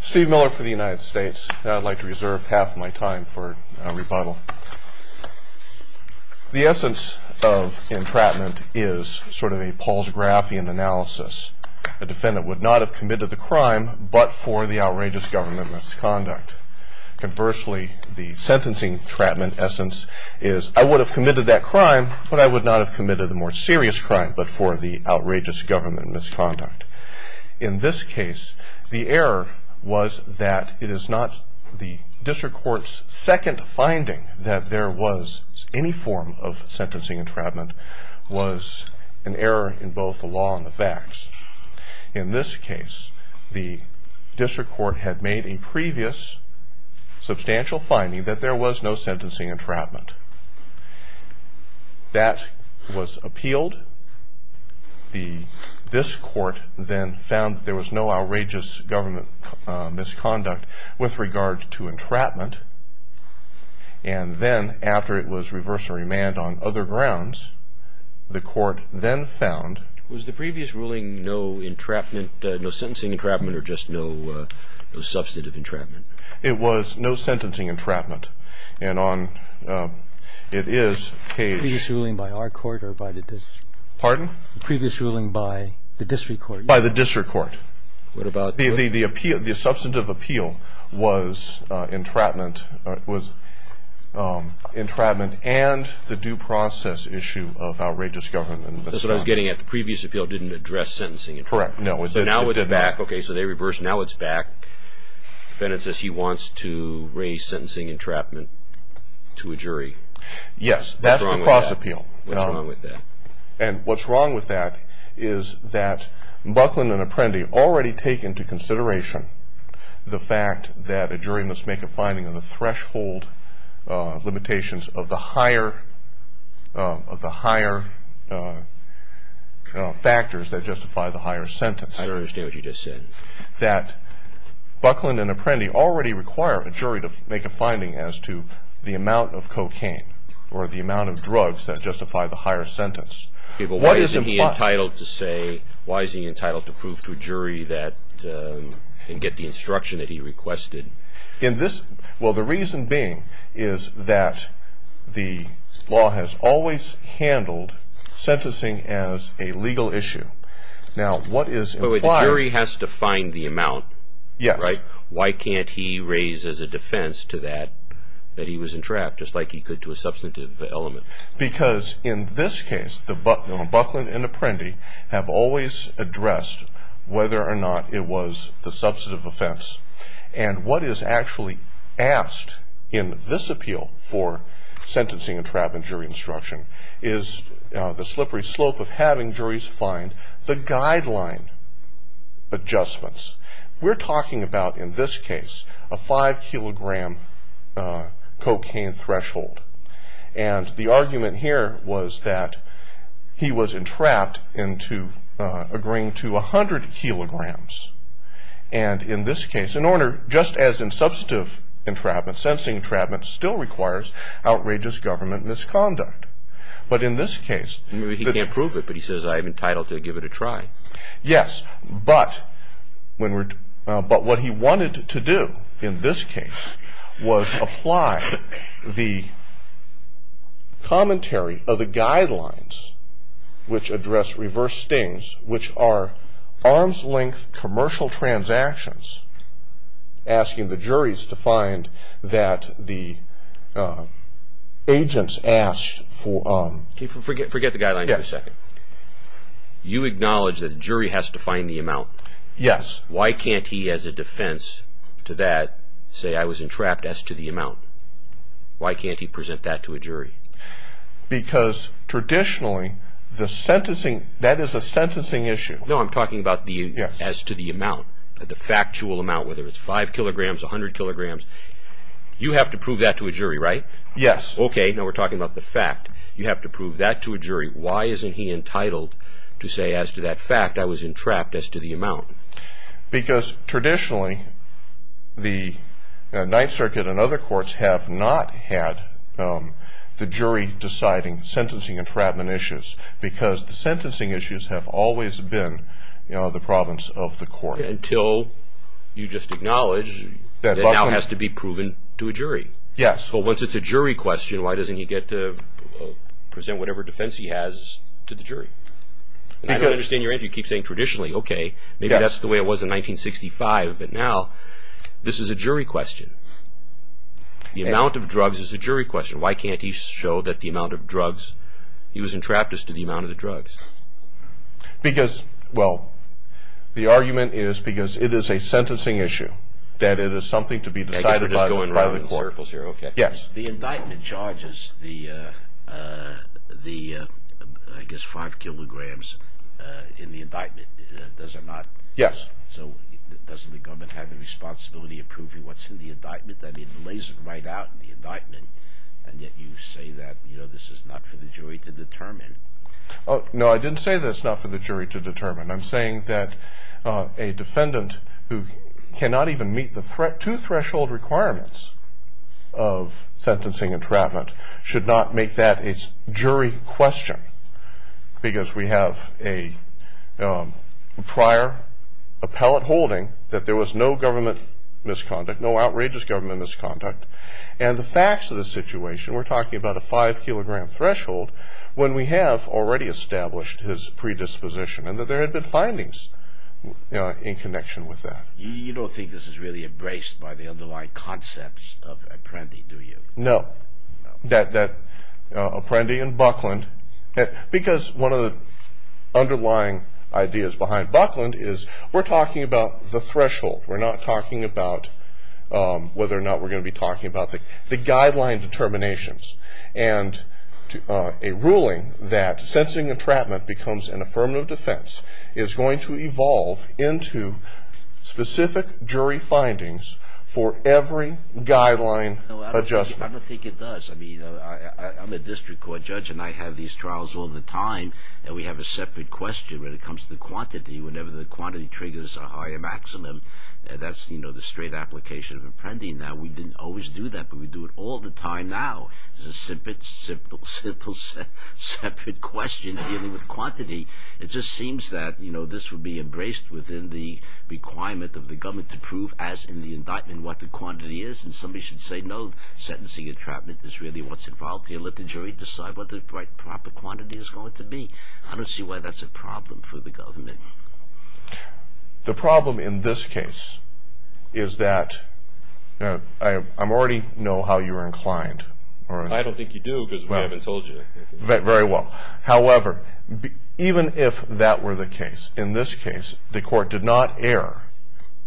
Steve Miller for the United States. Now I'd like to reserve half of my time for a rebuttal. The essence of entrapment is sort of a Paul's-Grafian analysis. A defendant would not have committed the crime but for the outrageous government misconduct. Conversely, the sentencing entrapment essence is, I would have committed that crime but I would not have committed the more serious crime but for the outrageous government misconduct. In this case, the error was that it is not the district court's second finding that there was any form of sentencing entrapment, was an error in both the law and the facts. In this case, the district court had made a previous substantial finding that there was no sentencing entrapment. That was appealed. This court then found there was no outrageous government misconduct with regard to entrapment. And then after it was reversed and remanded on other grounds, the court then found... Was the previous ruling no sentencing entrapment or just no substantive entrapment? It was no sentencing entrapment. Previous ruling by our court or by the district? Pardon? Previous ruling by the district court. By the district court. The substantive appeal was entrapment and the due process issue of outrageous government misconduct. That's what I was getting at. The previous appeal didn't address sentencing entrapment. Correct. So now it's back. Okay, so they reversed. Now it's back. Then it says he wants to raise sentencing entrapment to a jury. Yes. What's wrong with that? That's the cross appeal. What's wrong with that? And what's wrong with that is that Buckland and Apprendi already take into consideration the fact that a jury must make a finding on the threshold limitations of the higher factors that justify the higher sentence. I don't understand what you just said. That Buckland and Apprendi already require a jury to make a finding as to the amount of cocaine or the amount of drugs that justify the higher sentence. Okay, but why is he entitled to say, why is he entitled to prove to a jury that, and get the instruction that he requested? In this, well the reason being is that the law has always handled sentencing as a legal issue. Now what is implied The jury has to find the amount, right? Yes. Why can't he raise as a defense to that, that he was entrapped, just like he could to a substantive element? Because in this case, Buckland and Apprendi have always addressed whether or not it was the substantive offense. And what is actually asked in this appeal for sentencing entrapment jury instruction is the slippery slope of having juries find the guideline adjustments. We're talking about, in this case, a five kilogram cocaine threshold. And the argument here was that he was entrapped into agreeing to a hundred kilograms. And in this case, in order, just as in substantive entrapment, sentencing entrapment still requires outrageous government misconduct. But in this case, He can't prove it, but he says I'm entitled to give it a try. Yes, but what he wanted to do in this case was apply the commentary of the guidelines which address reverse stings, which are arm's length commercial transactions, asking the juries to find that the agents asked for... Forget the guidelines for a second. You acknowledge that the jury has to find the amount. Yes. Why can't he, as a defense to that, say I was entrapped as to the amount? Why can't he present that to a jury? Because traditionally, that is a sentencing issue. No, I'm talking about as to the amount, the factual amount, whether it's five kilograms, a hundred kilograms. You have to prove that to a jury, right? Yes. Okay, now we're talking about the fact. You have to prove that to a jury. Why isn't he entitled to say, as to that fact, I was entrapped as to the amount? Because traditionally, the Ninth Circuit and other courts have not had the jury deciding sentencing entrapment issues because the sentencing issues have always been the province of the court. Until you just acknowledge that now has to be proven to a jury. Yes. But once it's a jury question, why doesn't he get to present whatever defense he has to the jury? I don't understand your answer. You keep saying traditionally, okay, maybe that's the way it was in 1965, but now this is a jury question. The amount of drugs is a jury question. Why can't he show that the amount of drugs, he was entrapped as to the amount of the drugs? Because, well, the argument is because it is a sentencing issue, that it is something to be decided by the court. I guess we're just going around in circles here, okay. Yes. The indictment charges the, I guess, five kilograms in the indictment, does it not? Yes. So doesn't the government have the responsibility of proving what's in the indictment? I mean, it lays it right out in the indictment, and yet you say that this is not for the jury to determine. No, I didn't say that it's not for the jury to determine. I'm saying that a defendant who cannot even meet the two threshold requirements of sentencing entrapment should not make that a jury question, because we have a prior appellate holding that there was no government misconduct, no outrageous government misconduct. And the facts of the situation, we're talking about a five-kilogram threshold, when we have already established his predisposition, and that there had been findings in connection with that. You don't think this is really embraced by the underlying concepts of Apprendi, do you? No, that Apprendi and Buckland, because one of the underlying ideas behind Buckland is we're talking about the threshold. We're not talking about whether or not we're going to be talking about the guideline determinations. And a ruling that sentencing entrapment becomes an affirmative defense is going to evolve into specific jury findings for every guideline adjustment. I don't think it does. I mean, I'm a district court judge, and I have these trials all the time, and we have a separate question when it comes to quantity. Whenever the quantity triggers a higher maximum, that's the straight application of Apprendi. Now, we didn't always do that, but we do it all the time now. It's a separate question dealing with quantity. It just seems that this would be embraced within the requirement of the government to prove as in the indictment what the quantity is, and somebody should say no, sentencing entrapment is really what's involved here. Let the jury decide what the proper quantity is going to be. I don't see why that's a problem for the government. The problem in this case is that I already know how you're inclined. I don't think you do because we haven't told you. Very well. However, even if that were the case, in this case, the court did not err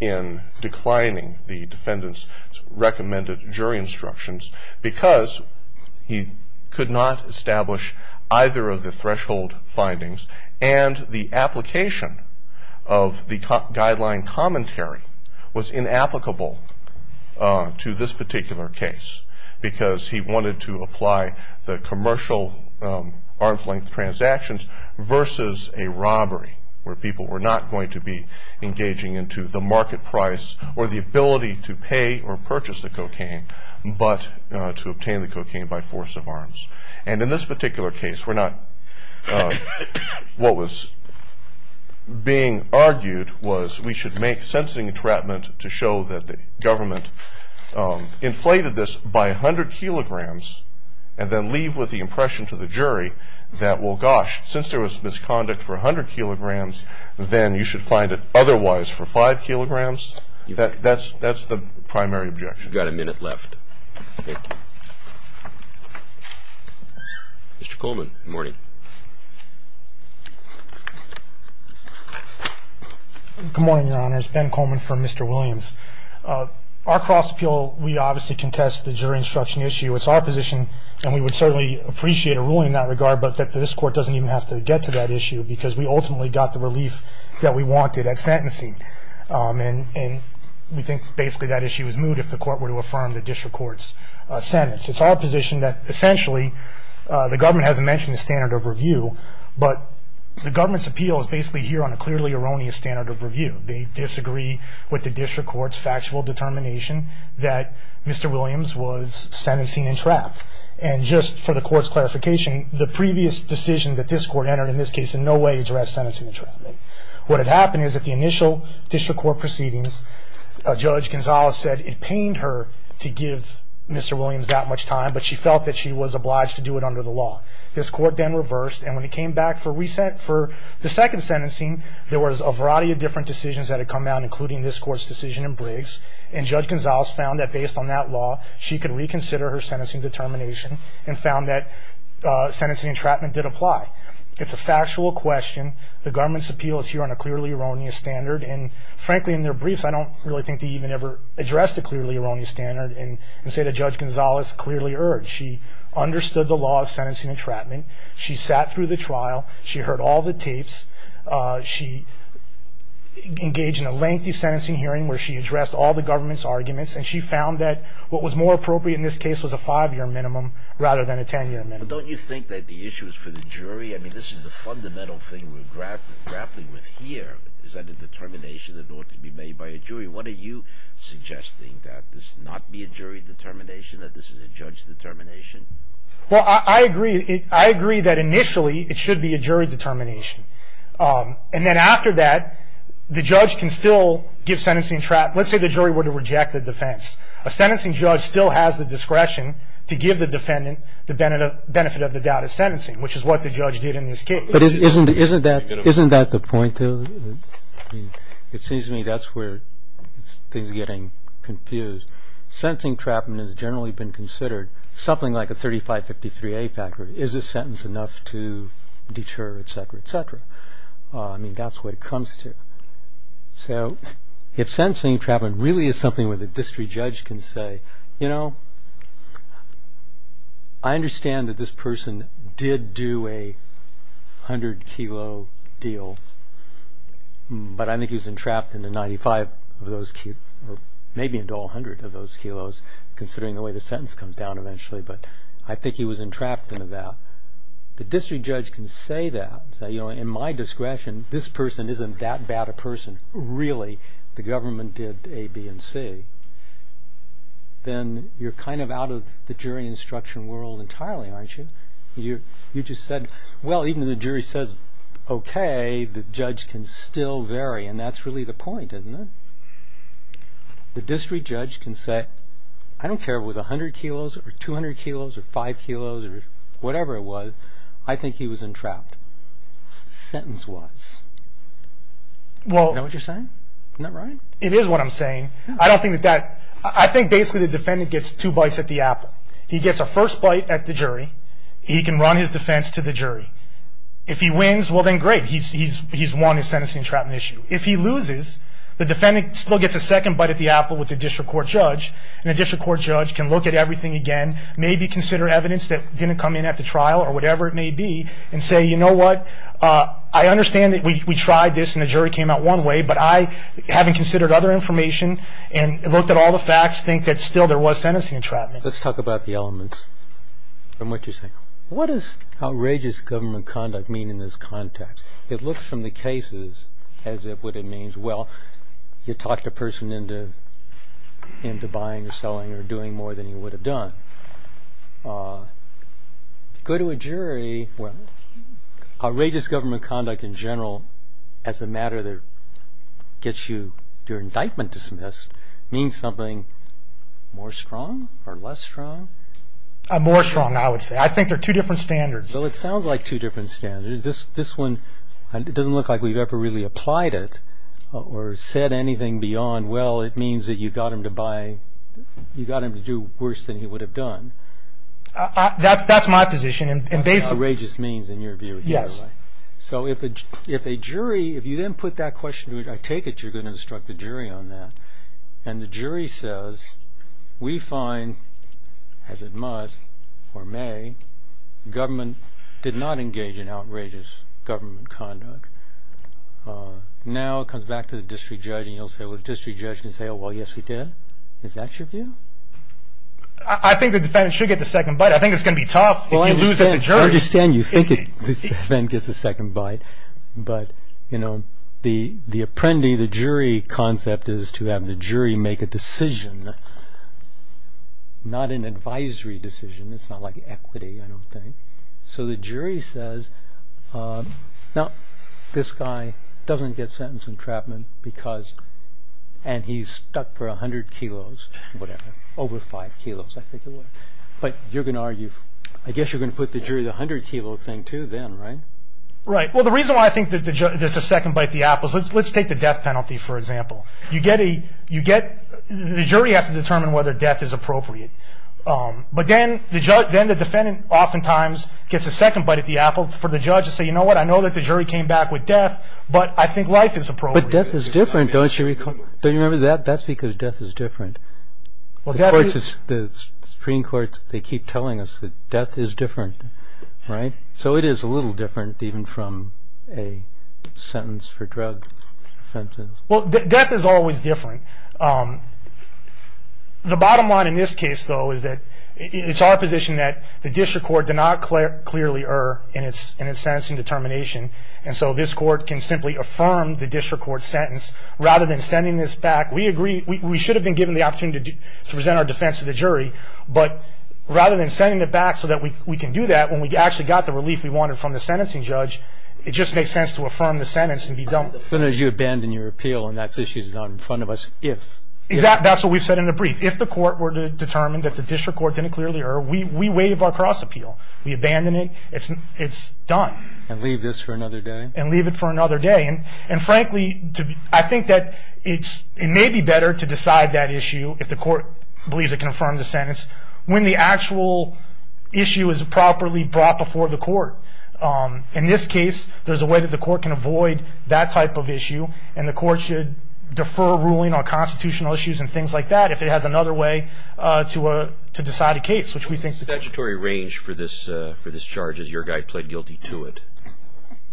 in declining the defendant's recommended jury instructions because he could not establish either of the threshold findings, and the application of the guideline commentary was inapplicable to this particular case because he wanted to apply the commercial arms-length transactions versus a robbery where people were not going to be engaging into the market price or the ability to pay or purchase the cocaine, but to obtain the cocaine by force of arms. In this particular case, what was being argued was we should make sentencing entrapment to show that the government inflated this by 100 kilograms and then leave with the impression to the jury that, well, gosh, since there was misconduct for 100 kilograms, then you should find it otherwise for 5 kilograms. That's the primary objection. You've got a minute left. Mr. Coleman, good morning. Good morning, Your Honor. It's Ben Coleman from Mr. Williams. Our cross-appeal, we obviously contest the jury instruction issue. It's our position, and we would certainly appreciate a ruling in that regard, but this court doesn't even have to get to that issue because we ultimately got the relief that we wanted at sentencing, and we think basically that issue is moved if the court were to affirm the district court's sentence. It's our position that essentially the government hasn't mentioned the standard of review, but the government's appeal is basically here on a clearly erroneous standard of review. They disagree with the district court's factual determination that Mr. Williams was sentencing entrapped. And just for the court's clarification, the previous decision that this court entered in this case in no way addressed sentencing entrapment. What had happened is at the initial district court proceedings, Judge Gonzales said it pained her to give Mr. Williams that much time, but she felt that she was obliged to do it under the law. This court then reversed, and when it came back for the second sentencing, there was a variety of different decisions that had come down, including this court's decision in Briggs, and Judge Gonzales found that based on that law, she could reconsider her sentencing determination and found that sentencing entrapment did apply. It's a factual question. The government's appeal is here on a clearly erroneous standard, and frankly, in their briefs, I don't really think they even ever addressed a clearly erroneous standard and say that Judge Gonzales clearly erred. She understood the law of sentencing entrapment. She sat through the trial. She heard all the tapes. She engaged in a lengthy sentencing hearing where she addressed all the government's arguments, and she found that what was more appropriate in this case was a 5-year minimum rather than a 10-year minimum. But don't you think that the issue is for the jury? I mean, this is the fundamental thing we're grappling with here, is that a determination that ought to be made by a jury. What are you suggesting, that this not be a jury determination, that this is a judge determination? Well, I agree that initially it should be a jury determination, and then after that, the judge can still give sentencing entrapment. Let's say the jury were to reject the defense. A sentencing judge still has the discretion to give the defendant the benefit of the doubt of sentencing, which is what the judge did in this case. But isn't that the point, though? It seems to me that's where things are getting confused. Sentencing entrapment has generally been considered something like a 3553A factor. Is this sentence enough to deter, etc., etc.? I mean, that's what it comes to. So if sentencing entrapment really is something where the district judge can say, you know, I understand that this person did do a 100 kilo deal, but I think he was entrapped in the 95 of those kilos, or maybe into all 100 of those kilos, considering the way the sentence comes down eventually, but I think he was entrapped in that. The district judge can say that, say, you know, in my discretion, this person isn't that bad a person. And really, the government did A, B, and C. Then you're kind of out of the jury instruction world entirely, aren't you? You just said, well, even if the jury says okay, the judge can still vary, and that's really the point, isn't it? The district judge can say, I don't care if it was 100 kilos or 200 kilos or 5 kilos or whatever it was, I think he was entrapped, sentence-wise. Is that what you're saying? Isn't that right? It is what I'm saying. I don't think that that – I think basically the defendant gets two bites at the apple. He gets a first bite at the jury. He can run his defense to the jury. If he wins, well, then great. He's won his sentencing entrapment issue. If he loses, the defendant still gets a second bite at the apple with the district court judge, and the district court judge can look at everything again, maybe consider evidence that didn't come in at the trial or whatever it may be, and say, you know what, I understand that we tried this and the jury came out one way, but I, having considered other information and looked at all the facts, think that still there was sentencing entrapment. Let's talk about the elements and what you're saying. What does outrageous government conduct mean in this context? It looks from the cases as if what it means – well, you talked a person into buying or selling or doing more than he would have done. Go to a jury. Well, outrageous government conduct in general as a matter that gets your indictment dismissed means something more strong or less strong? More strong, I would say. I think they're two different standards. Well, it sounds like two different standards. This one doesn't look like we've ever really applied it or said anything beyond, well, it means that you got him to buy, you got him to do worse than he would have done. That's my position. What outrageous means in your view. Yes. So if a jury, if you then put that question, I take it you're going to instruct the jury on that, and the jury says, we find, as it must or may, government did not engage in outrageous government conduct. Now it comes back to the district judge, and you'll say, well, the district judge can say, oh, well, yes, he did. Is that your view? I think the defense should get the second bite. I think it's going to be tough if you lose at the jury. I understand you think the defense gets the second bite, but the apprendee, the jury concept is to have the jury make a decision, not an advisory decision. It's not like equity, I don't think. So the jury says, now, this guy doesn't get sentence entrapment because, and he's stuck for 100 kilos, whatever, over 5 kilos, I think it was. But you're going to argue, I guess you're going to put the jury to the 100 kilo thing too then, right? Right. Well, the reason why I think there's a second bite to the apples, let's take the death penalty, for example. You get a, you get, the jury has to determine whether death is appropriate. But then the defendant oftentimes gets a second bite at the apple for the judge to say, you know what, I know that the jury came back with death, but I think life is appropriate. But death is different, don't you recall? Don't you remember that? That's because death is different. The Supreme Court, they keep telling us that death is different, right? So it is a little different even from a sentence for drug offenses. Well, death is always different. The bottom line in this case, though, is that it's our position that the district court did not clearly err in its sentencing determination. And so this court can simply affirm the district court's sentence rather than sending this back. We agree, we should have been given the opportunity to present our defense to the jury. But rather than sending it back so that we can do that, when we actually got the relief we wanted from the sentencing judge, So as soon as you abandon your appeal and that issue is not in front of us, if? That's what we've said in the brief. If the court were to determine that the district court didn't clearly err, we waive our cross appeal. We abandon it. It's done. And leave this for another day? And leave it for another day. And frankly, I think that it may be better to decide that issue, if the court believes it can affirm the sentence, when the actual issue is properly brought before the court. In this case, there's a way that the court can avoid that type of issue, and the court should defer ruling on constitutional issues and things like that, if it has another way to decide a case. What is the statutory range for this charge, as your guy pled guilty to it?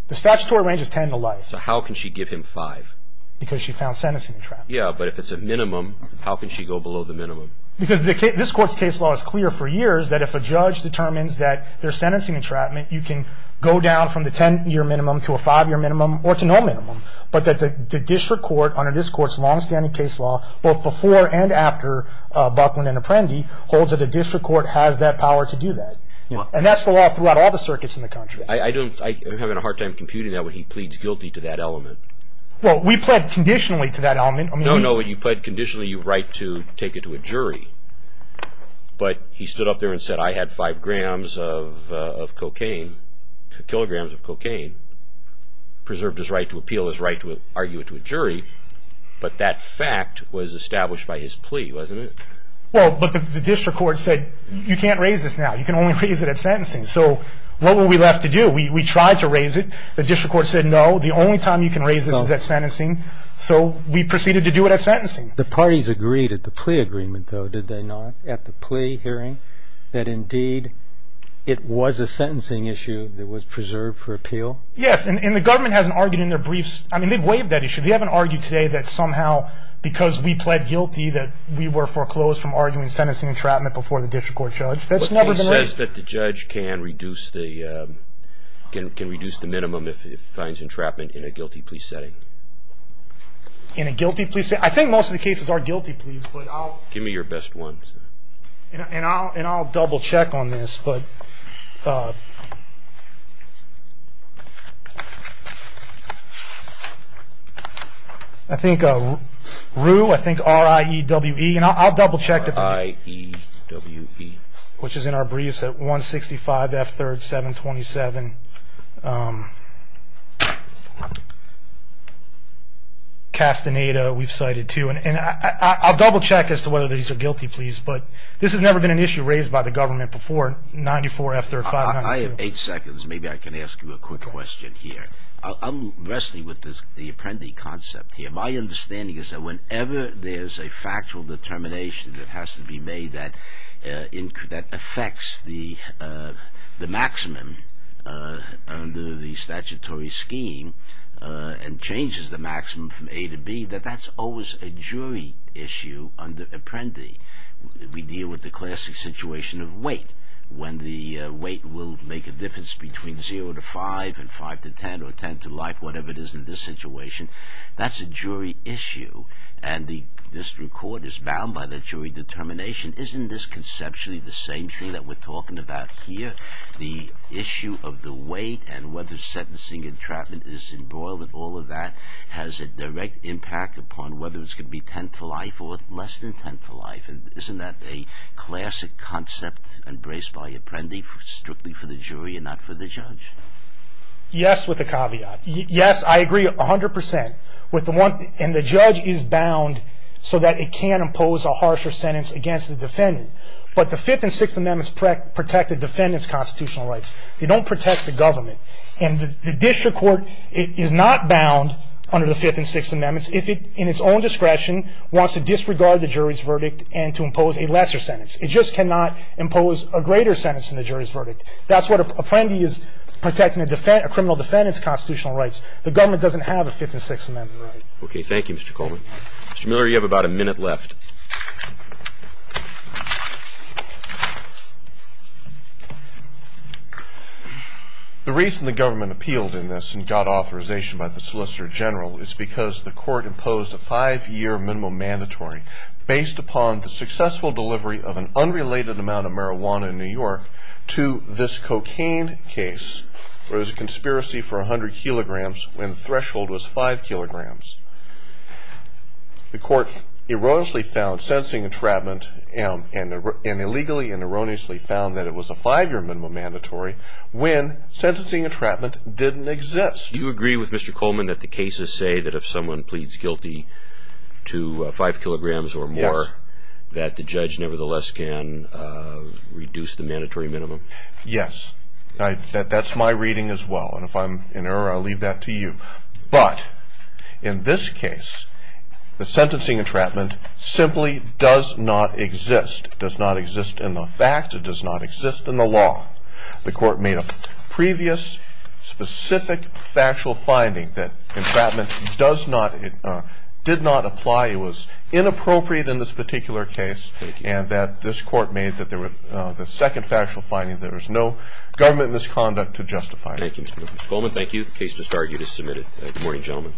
The statutory range is ten to life. So how can she give him five? Because she found sentencing entrapment. Yeah, but if it's a minimum, how can she go below the minimum? Because this court's case law is clear for years, that if a judge determines that there's sentencing entrapment, you can go down from the ten-year minimum to a five-year minimum or to no minimum. But the district court, under this court's long-standing case law, both before and after Buckland and Apprendi, holds that the district court has that power to do that. And that's the law throughout all the circuits in the country. I'm having a hard time computing that when he pleads guilty to that element. Well, we pled conditionally to that element. No, no, you pled conditionally, you write to take it to a jury. But he stood up there and said, I had five kilograms of cocaine, preserved his right to appeal, his right to argue it to a jury. But that fact was established by his plea, wasn't it? Well, but the district court said, you can't raise this now. You can only raise it at sentencing. So what were we left to do? We tried to raise it. The district court said, no, the only time you can raise this is at sentencing. So we proceeded to do it at sentencing. The parties agreed at the plea agreement, though, did they not, at the plea hearing, that indeed it was a sentencing issue that was preserved for appeal? Yes, and the government hasn't argued in their briefs. I mean, they've waived that issue. They haven't argued today that somehow because we pled guilty, that we were foreclosed from arguing sentencing entrapment before the district court judge. That's never been raised. But he says that the judge can reduce the minimum if he finds entrapment in a guilty plea setting. In a guilty plea setting? I think most of the cases are guilty pleas. Give me your best ones. And I'll double check on this. I think RIEWE, and I'll double check. RIEWE. Which is in our briefs at 165 F 3rd 727. And Castaneda, we've cited too. And I'll double check as to whether these are guilty pleas. But this has never been an issue raised by the government before, 94 F 3rd 502. I have eight seconds. Maybe I can ask you a quick question here. I'm wrestling with the apprendee concept here. My understanding is that whenever there's a factual determination that has to be made that affects the maximum under the statutory scheme and changes the maximum from A to B, that that's always a jury issue under apprendee. We deal with the classic situation of weight. When the weight will make a difference between 0 to 5 and 5 to 10 or 10 to life, whatever it is in this situation, that's a jury issue. And this record is bound by the jury determination. Isn't this conceptually the same thing that we're talking about here? The issue of the weight and whether sentencing entrapment is embroiled in all of that has a direct impact upon whether it's going to be 10 to life or less than 10 to life. Isn't that a classic concept embraced by apprendee strictly for the jury and not for the judge? Yes, with a caveat. Yes, I agree 100 percent. And the judge is bound so that it can impose a harsher sentence against the defendant. But the Fifth and Sixth Amendments protect the defendant's constitutional rights. They don't protect the government. And the district court is not bound under the Fifth and Sixth Amendments if it, in its own discretion, wants to disregard the jury's verdict and to impose a lesser sentence. It just cannot impose a greater sentence than the jury's verdict. That's what an apprendee is protecting, a criminal defendant's constitutional rights. The government doesn't have a Fifth and Sixth Amendment right. Okay, thank you, Mr. Coleman. Mr. Miller, you have about a minute left. The reason the government appealed in this and got authorization by the Solicitor General is because the court imposed a five-year minimum mandatory based upon the successful delivery of an unrelated amount of marijuana in New York to this cocaine case where there was a conspiracy for 100 kilograms when the threshold was 5 kilograms. The court erroneously found sentencing entrapment and illegally and erroneously found that it was a five-year minimum mandatory when sentencing entrapment didn't exist. Do you agree with Mr. Coleman that the cases say that if someone pleads guilty to 5 kilograms or more, that the judge nevertheless can reduce the mandatory minimum? Yes. That's my reading as well, and if I'm in error, I'll leave that to you. But in this case, the sentencing entrapment simply does not exist. It does not exist in the facts. It does not exist in the law. The court made a previous specific factual finding that entrapment did not apply. It was inappropriate in this particular case, and that this court made the second factual finding that there was no government misconduct to justify it. Thank you, Mr. Coleman. Thank you. The case just argued is submitted. Good morning, gentlemen.